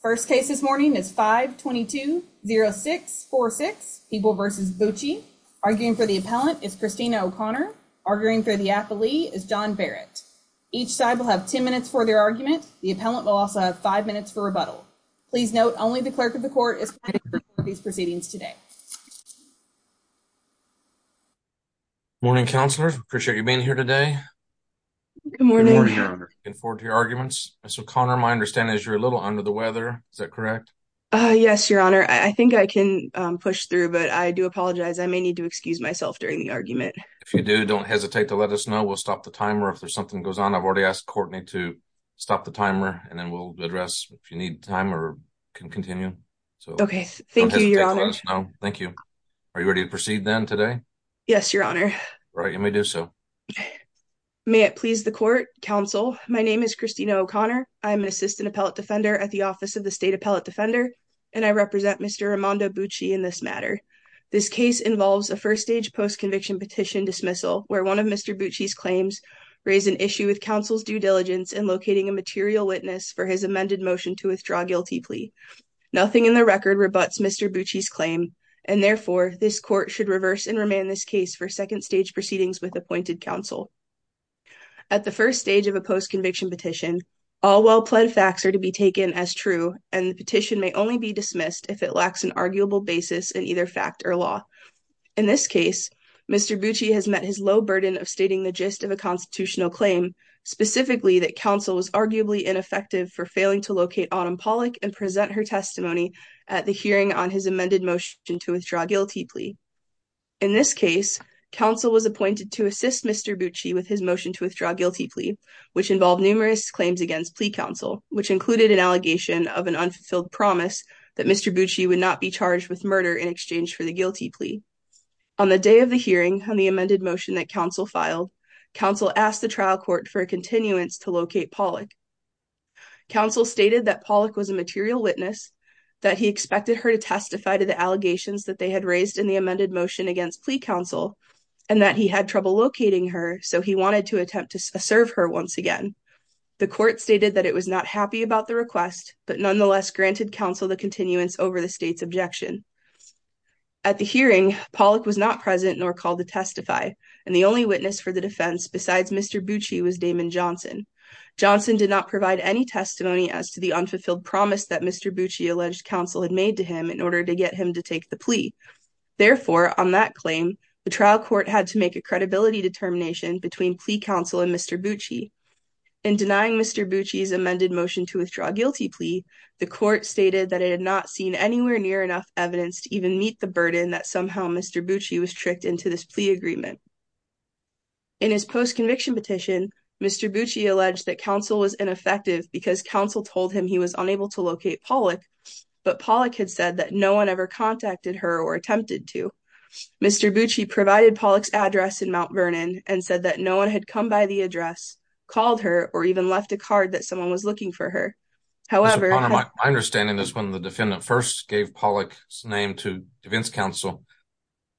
First case this morning is 522-0646, People v. Bootchee. Arguing for the appellant is Christina O'Connor. Arguing for the affilee is John Barrett. Each side will have 10 minutes for their argument. The appellant will also have five minutes for rebuttal. Please note only the clerk of the court is planning for these proceedings today. Good morning, counselor. Appreciate you being here today. Good morning. Looking forward to your arguments. So Connor, my understanding is you're a little under the weather. Is that correct? Yes, your honor. I think I can push through, but I do apologize. I may need to excuse myself during the argument. If you do, don't hesitate to let us know. We'll stop the timer if there's something goes on. I've already asked Courtney to stop the timer and then we'll address if you need time or can continue. Okay, thank you, your honor. Thank you. Are you ready to proceed then today? Yes, your honor. Right, you may do so. May it please the court, counsel. My name is Christina O'Connor. I'm an assistant appellate defender at the Office of the State Appellate Defender and I represent Mr. Armando Bucci in this matter. This case involves a first-stage post-conviction petition dismissal where one of Mr. Bucci's claims raise an issue with counsel's due diligence in locating a material witness for his amended motion to withdraw guilty plea. Nothing in the record rebuts Mr. Bucci's claim and therefore this court should reverse and remand this case for second stage proceedings with appointed counsel. At the first stage of a post-conviction petition, all well-pled facts are to be taken as true and the petition may only be dismissed if it lacks an arguable basis in either fact or law. In this case, Mr. Bucci has met his low burden of stating the gist of a constitutional claim, specifically that counsel was arguably ineffective for failing to locate Autumn Pollack and present her testimony at the hearing on his amended motion to withdraw guilty plea. In this case, counsel was appointed to assist Mr. Bucci with his motion to withdraw guilty plea, which involved numerous claims against plea counsel, which included an allegation of an unfulfilled promise that Mr. Bucci would not be charged with murder in exchange for the guilty plea. On the day of the hearing on the amended motion that counsel filed, counsel asked the trial court for a continuance to locate Pollack. Counsel stated that Pollack was a material witness, that he expected her to plea counsel, and that he had trouble locating her, so he wanted to attempt to serve her once again. The court stated that it was not happy about the request, but nonetheless granted counsel the continuance over the state's objection. At the hearing, Pollack was not present nor called to testify, and the only witness for the defense besides Mr. Bucci was Damon Johnson. Johnson did not provide any testimony as to the unfulfilled promise that Mr. Bucci alleged counsel had made to him in order to get him to take the plea. Therefore, on that claim, the trial court had to make a credibility determination between plea counsel and Mr. Bucci. In denying Mr. Bucci's amended motion to withdraw a guilty plea, the court stated that it had not seen anywhere near enough evidence to even meet the burden that somehow Mr. Bucci was tricked into this plea agreement. In his post-conviction petition, Mr. Bucci alleged that counsel was ineffective because counsel told him he was unable to locate Pollack, but Pollack had said that no one ever contacted her or attempted to. Mr. Bucci provided Pollack's address in Mount Vernon and said that no one had come by the address, called her, or even left a card that someone was looking for her. However, my understanding is when the defendant first gave Pollack's name to defense counsel,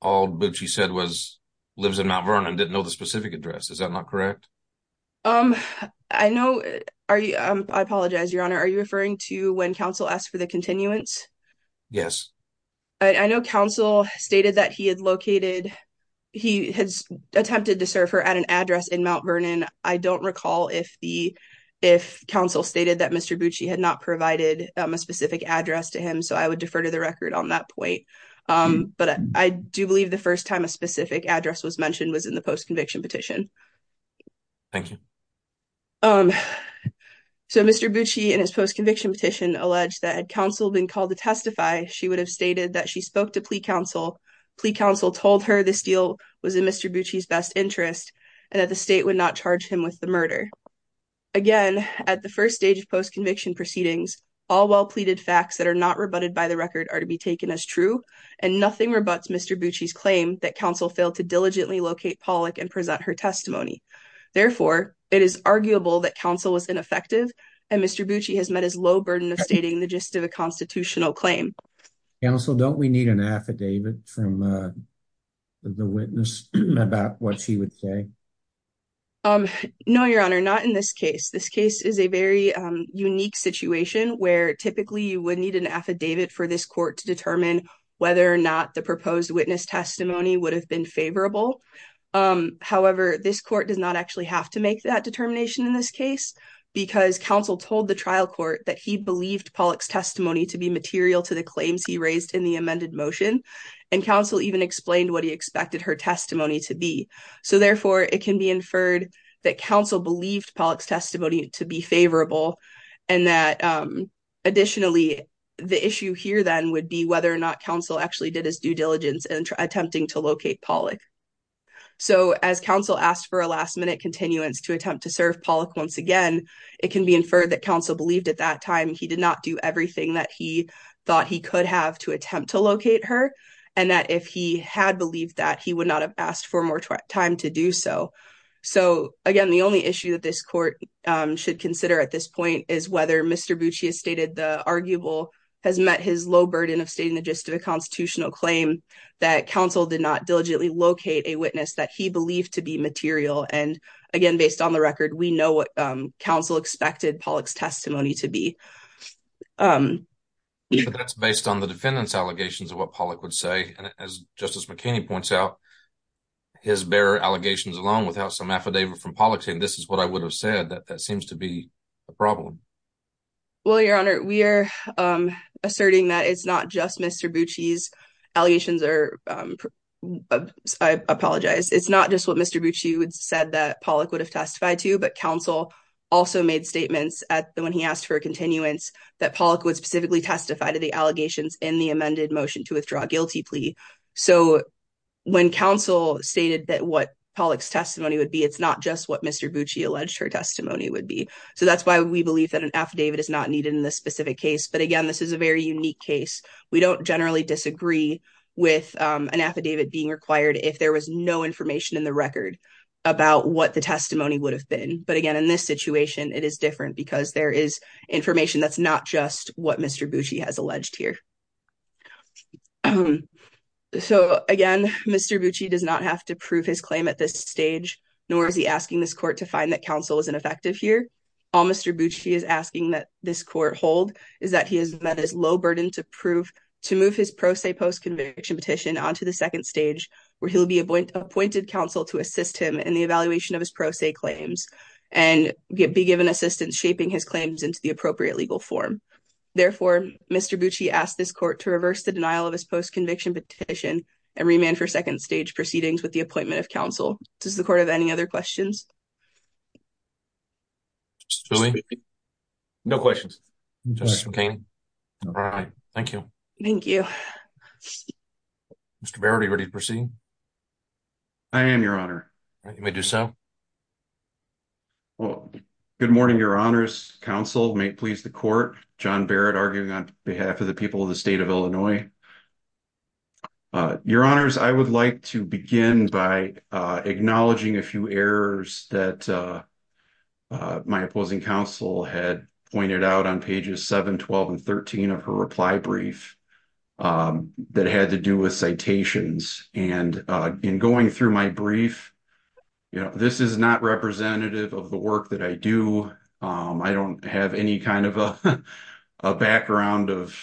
all Bucci said was lives in Mount Vernon, didn't know the specific address. Is that not correct? Are you? I apologize, Your Honor. Are you referring to when counsel asked for the continuance? Yes. I know counsel stated that he had located, he had attempted to serve her at an address in Mount Vernon. I don't recall if counsel stated that Mr. Bucci had not provided a specific address to him, so I would defer to the record on that point, but I do believe the first time a specific address was mentioned was in the post-conviction petition. Thank you. Um, so Mr. Bucci, in his post-conviction petition, alleged that had counsel been called to testify, she would have stated that she spoke to plea counsel, plea counsel told her this deal was in Mr. Bucci's best interest, and that the state would not charge him with the murder. Again, at the first stage of post-conviction proceedings, all well-pleaded facts that are not rebutted by the record are to be taken as true, and nothing rebuts Mr. Bucci's claim that counsel failed to diligently locate Pollack and present her testimony. Therefore, it is arguable that counsel was ineffective, and Mr. Bucci has met his low burden of stating the gist of a constitutional claim. Counsel, don't we need an affidavit from the witness about what she would say? Um, no, your honor, not in this case. This case is a very unique situation where typically you would need an affidavit for this court to determine whether or not the proposed witness testimony would have been favorable. Um, however, this court does not actually have to make that determination in this case because counsel told the trial court that he believed Pollack's testimony to be material to the claims he raised in the amended motion, and counsel even explained what he expected her testimony to be. So therefore, it can be inferred that counsel believed Pollack's testimony to be favorable, and that, um, additionally, the issue here then would be whether or not counsel actually did his due diligence in attempting to locate Pollack. So as counsel asked for a last-minute continuance to attempt to serve Pollack once again, it can be inferred that counsel believed at that time he did not do everything that he thought he could have to attempt to locate her, and that if he had believed that, he would not have asked for more time to do so. So again, the only issue that this court, um, should consider at this point is whether Mr. Bucci has stated the arguable, has met his low burden of stating the gist of a constitutional claim that counsel did not diligently locate a witness that he believed to be material, and again, based on the record, we know what, um, counsel expected Pollack's testimony to be. Um, that's based on the defendant's allegations of what Pollack would say, and as Justice McKinney points out, his bare allegations alone without some affidavit from Pollack saying this is what I would have said, that seems to be a problem. Well, Your Honor, we are, um, asserting that it's not just Mr. Bucci's allegations or, um, I apologize, it's not just what Mr. Bucci said that Pollack would have testified to, but counsel also made statements at, when he asked for a continuance, that Pollack would specifically testify to the allegations in the amended motion to withdraw a guilty plea. So when counsel stated that what Pollack's testimony would be, it's not just what Mr. Bucci alleged her testimony would be. So that's why we believe that an affidavit is not needed in this specific case, but again, this is a very unique case. We don't generally disagree with, um, an affidavit being required if there was no information in the record about what the testimony would have been. But again, in this situation, it is different because there is information that's not just what Mr. Bucci has alleged here. So again, Mr. Bucci does not have to prove his claim at this stage, nor is he asking this court to find that counsel is ineffective here. All Mr. Bucci is asking that this court hold is that he has met his low burden to prove, to move his pro se post-conviction petition onto the second stage, where he'll be appointed counsel to assist him in the evaluation of his pro se claims and be given assistance shaping his claims into the appropriate legal form. Therefore, Mr. Bucci asked this court to reverse the denial of his post-conviction petition and remand for second stage proceedings with the appointment of counsel. Does the court have any other questions? No questions. All right. Thank you. Thank you. Mr. Barrett, are you ready to proceed? I am, Your Honor. You may do so. Well, good morning, Your Honors. Counsel may please the court, John Barrett, arguing on behalf of the people of the state of Illinois. Your Honors, I would like to begin by acknowledging a few errors that my opposing counsel had pointed out on pages 7, 12, and 13 of her reply brief that had to do with citations. And in going through my brief, this is not representative of the work that I do. I don't have any kind of a background of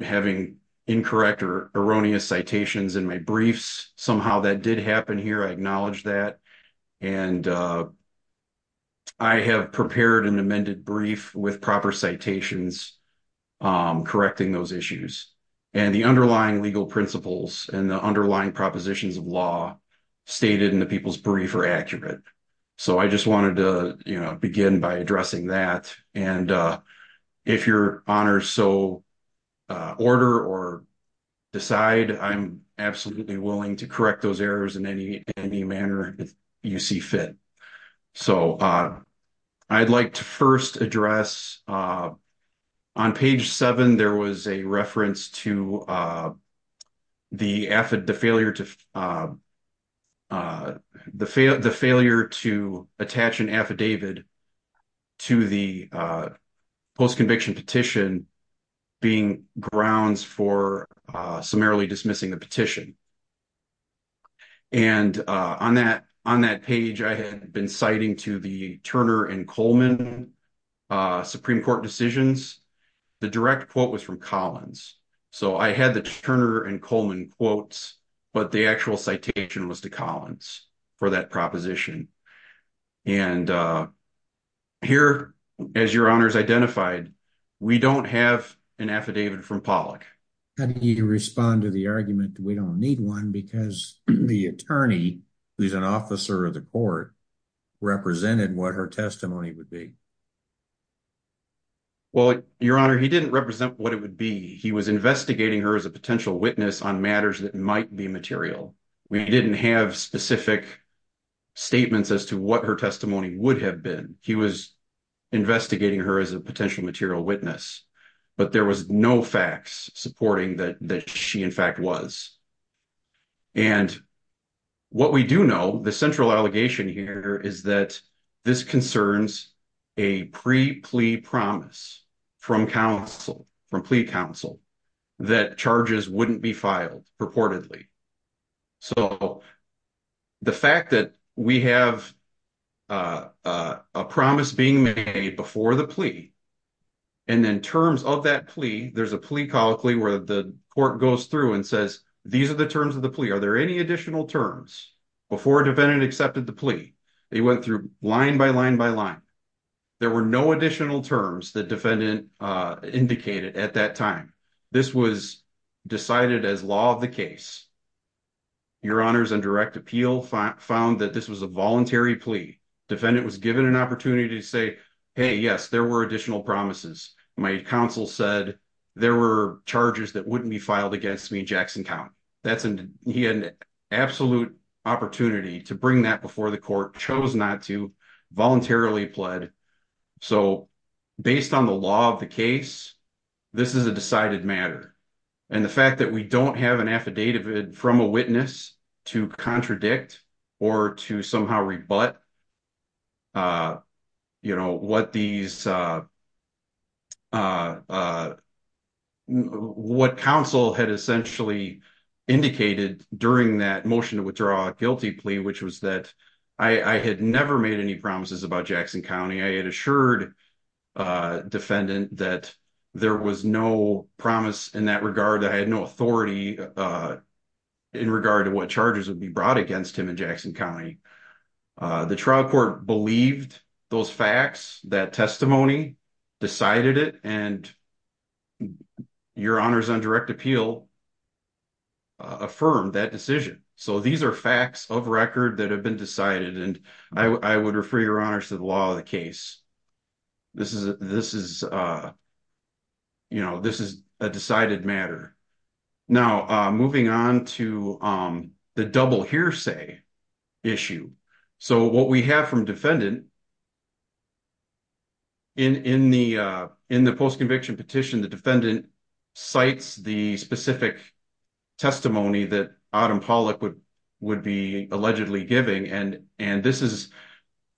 having incorrect or erroneous citations in my briefs. Somehow that did happen here. I acknowledge that. And I have prepared an amended brief with proper citations correcting those issues. And the underlying legal principles and the underlying propositions of law stated in the people's brief are accurate. So I just wanted to begin by addressing that. And if Your Honors so order or decide, I'm absolutely willing to correct those errors in any manner you see fit. So I'd like to first address, on page 7, there was a reference to failure to attach an affidavit to the post-conviction petition being grounds for summarily dismissing the petition. And on that page, I had been citing to the Turner and Coleman Supreme Court decisions. The direct quote was from Collins. So I had the Turner and Coleman quotes, but the actual citation was to Collins for that proposition. And here, as Your Honors identified, we don't have an affidavit from Pollack. I need to respond to the argument that we don't need one because the attorney, who's an officer of the court, represented what her testimony would be. Well, Your Honor, he didn't represent what it would be. He was investigating her as a potential witness on matters that might be material. We didn't have specific statements as to what her testimony would have been. He was investigating her as a potential material witness, but there was no facts supporting that she, in fact, was. And what we do know, the central allegation here is that this concerns a pre-plea promise from plea counsel that charges wouldn't be filed purportedly. So the fact that we have a promise being made before the plea, and then terms of that plea, there's a plea colloquy where the court goes through and says, these are the terms of the They went through line by line by line. There were no additional terms that defendant indicated at that time. This was decided as law of the case. Your Honors on direct appeal found that this was a voluntary plea. Defendant was given an opportunity to say, hey, yes, there were additional promises. My counsel said there were charges that wouldn't be filed against me, Jackson Count. He had an absolute opportunity to bring that before the court, chose not to, voluntarily pled. So based on the law of the case, this is a decided matter. And the fact that we don't have an affidavit from a witness to contradict or to somehow rebut what counsel had essentially indicated during that motion to withdraw a guilty plea, which was that I had never made any promises about Jackson County. I had assured defendant that there was no promise in that regard. I had no authority in regard to what charges would be brought against him in Jackson County. The trial court believed those facts, that testimony, decided it, and your Honors on direct appeal affirmed that decision. So these are facts of record that have been decided, and I would refer your Honors to the law of the case. This is a decided matter. Now moving on to the double hearsay issue. So what we have from defendant in the post-conviction petition, the defendant cites the specific testimony that Adam Pollack would be allegedly giving. And this is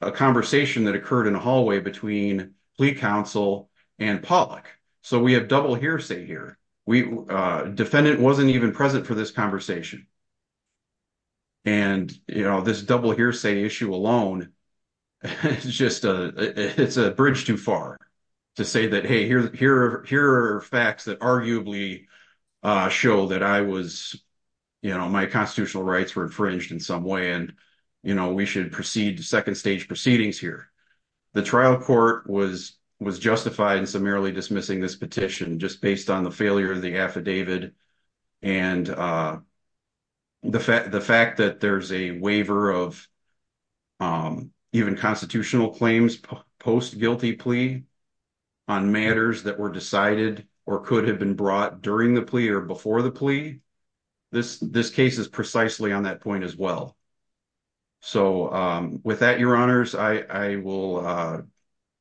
a conversation that occurred in a hallway between plea counsel and Pollack. So we have double hearsay here. Defendant wasn't even present for this conversation. And this double hearsay issue alone, it's a bridge too far to say that, hey, here are facts that arguably show that my constitutional rights were infringed in some way, and we should proceed to second stage proceedings here. The trial court was justified in summarily dismissing this petition just based on the failure of the affidavit. And the fact that there's a waiver of even constitutional claims post-guilty plea on matters that were decided or could have been brought during the plea or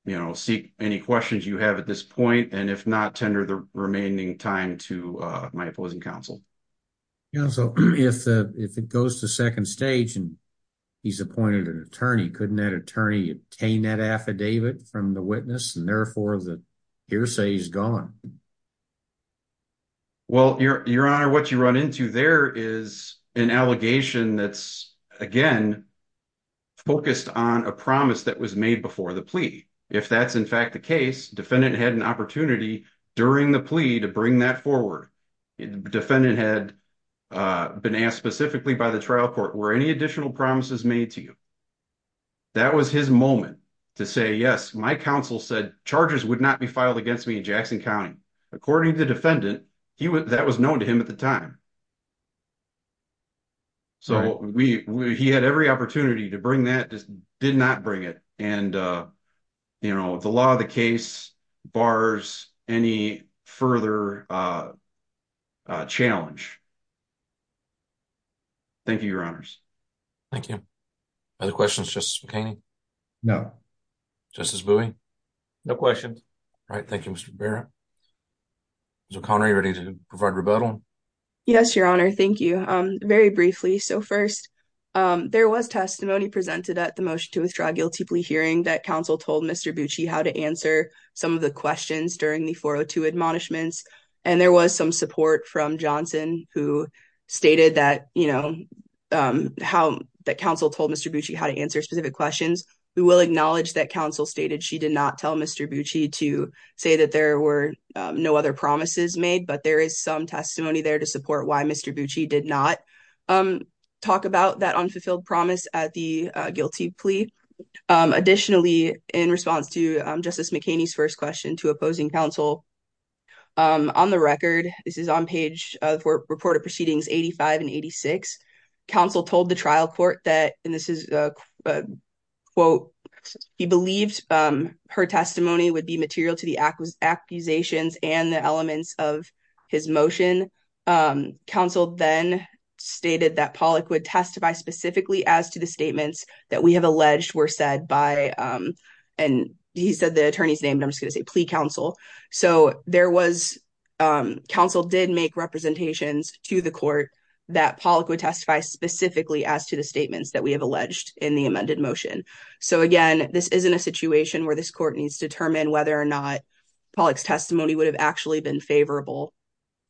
will seek any questions you have at this point, and if not, tender the remaining time to my opposing counsel. So if it goes to second stage and he's appointed an attorney, couldn't that attorney obtain that affidavit from the witness and therefore the hearsay is gone? Well, your Honor, what you run into there is an allegation that's, again, focused on a promise that was made before the plea. If that's, in fact, the case, defendant had an opportunity during the plea to bring that forward. Defendant had been asked specifically by the trial court, were any additional promises made to you? That was his moment to say, yes, my counsel said charges would not be filed against me in Jackson County. According to the defendant, that was known to him at the time. So he had every opportunity to bring that, just did not bring it. And, you know, the law of the case bars any further challenge. Thank you, your Honors. Thank you. Are there questions, Justice O'Connor? Are you ready to provide rebuttal? Yes, your Honor. Thank you. Very briefly. So first, there was testimony presented at the motion to withdraw guilty plea hearing that counsel told Mr. Bucci how to answer some of the questions during the 402 admonishments. And there was some support from Johnson who stated that, you know, how that counsel told Mr. Bucci how to answer specific questions. We will acknowledge that counsel stated she did not tell Mr. Bucci to say that there were no other promises made, but there is some testimony there to support why Mr. Bucci did not talk about that unfulfilled promise at the guilty plea. Additionally, in response to Justice McKinney's first question to opposing counsel, on the record, this is on page of report of proceedings 85 and 86, counsel told the trial court that, and this is a quote, he believed her testimony would be material to the accusations and the elements of his motion. Counsel then stated that Pollock would testify specifically as to the statements that we have alleged were said by, and he said the attorney's name, but I'm just gonna say plea counsel. So there was, counsel did make representations to the court that Pollock would testify specifically as to the statements that we have alleged in the amended motion. So again, this isn't a situation where this court needs to determine whether or not Pollock's testimony would have actually been favorable.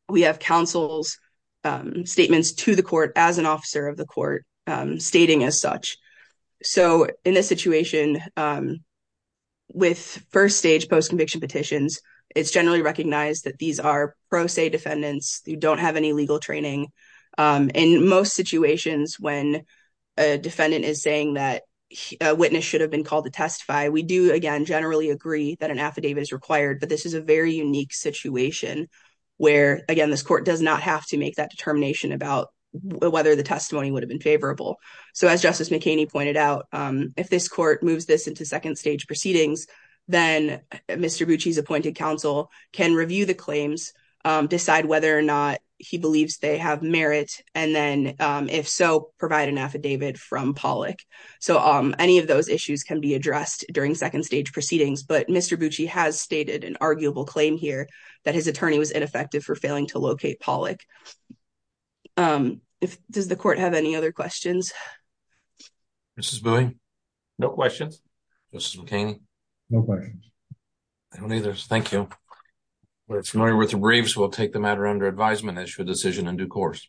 We have counsel's statements to the court as an officer of the court stating as such. So in this situation, with first stage post-conviction petitions, it's generally recognized that these are defendants who don't have any legal training. In most situations, when a defendant is saying that a witness should have been called to testify, we do, again, generally agree that an affidavit is required, but this is a very unique situation where, again, this court does not have to make that determination about whether the testimony would have been favorable. So as Justice McKinney pointed out, if this court moves this into second stage proceedings, then Mr. Bucci's counsel can review the claims, decide whether or not he believes they have merit, and then, if so, provide an affidavit from Pollock. So any of those issues can be addressed during second stage proceedings, but Mr. Bucci has stated an arguable claim here that his attorney was ineffective for failing to locate Pollock. Does the court have any other questions? Mrs. Bowie? No questions. Mrs. McKinney? No questions. No, neither. Thank you. We're familiar with the briefs. We'll take the matter under advisement as your decision in due course.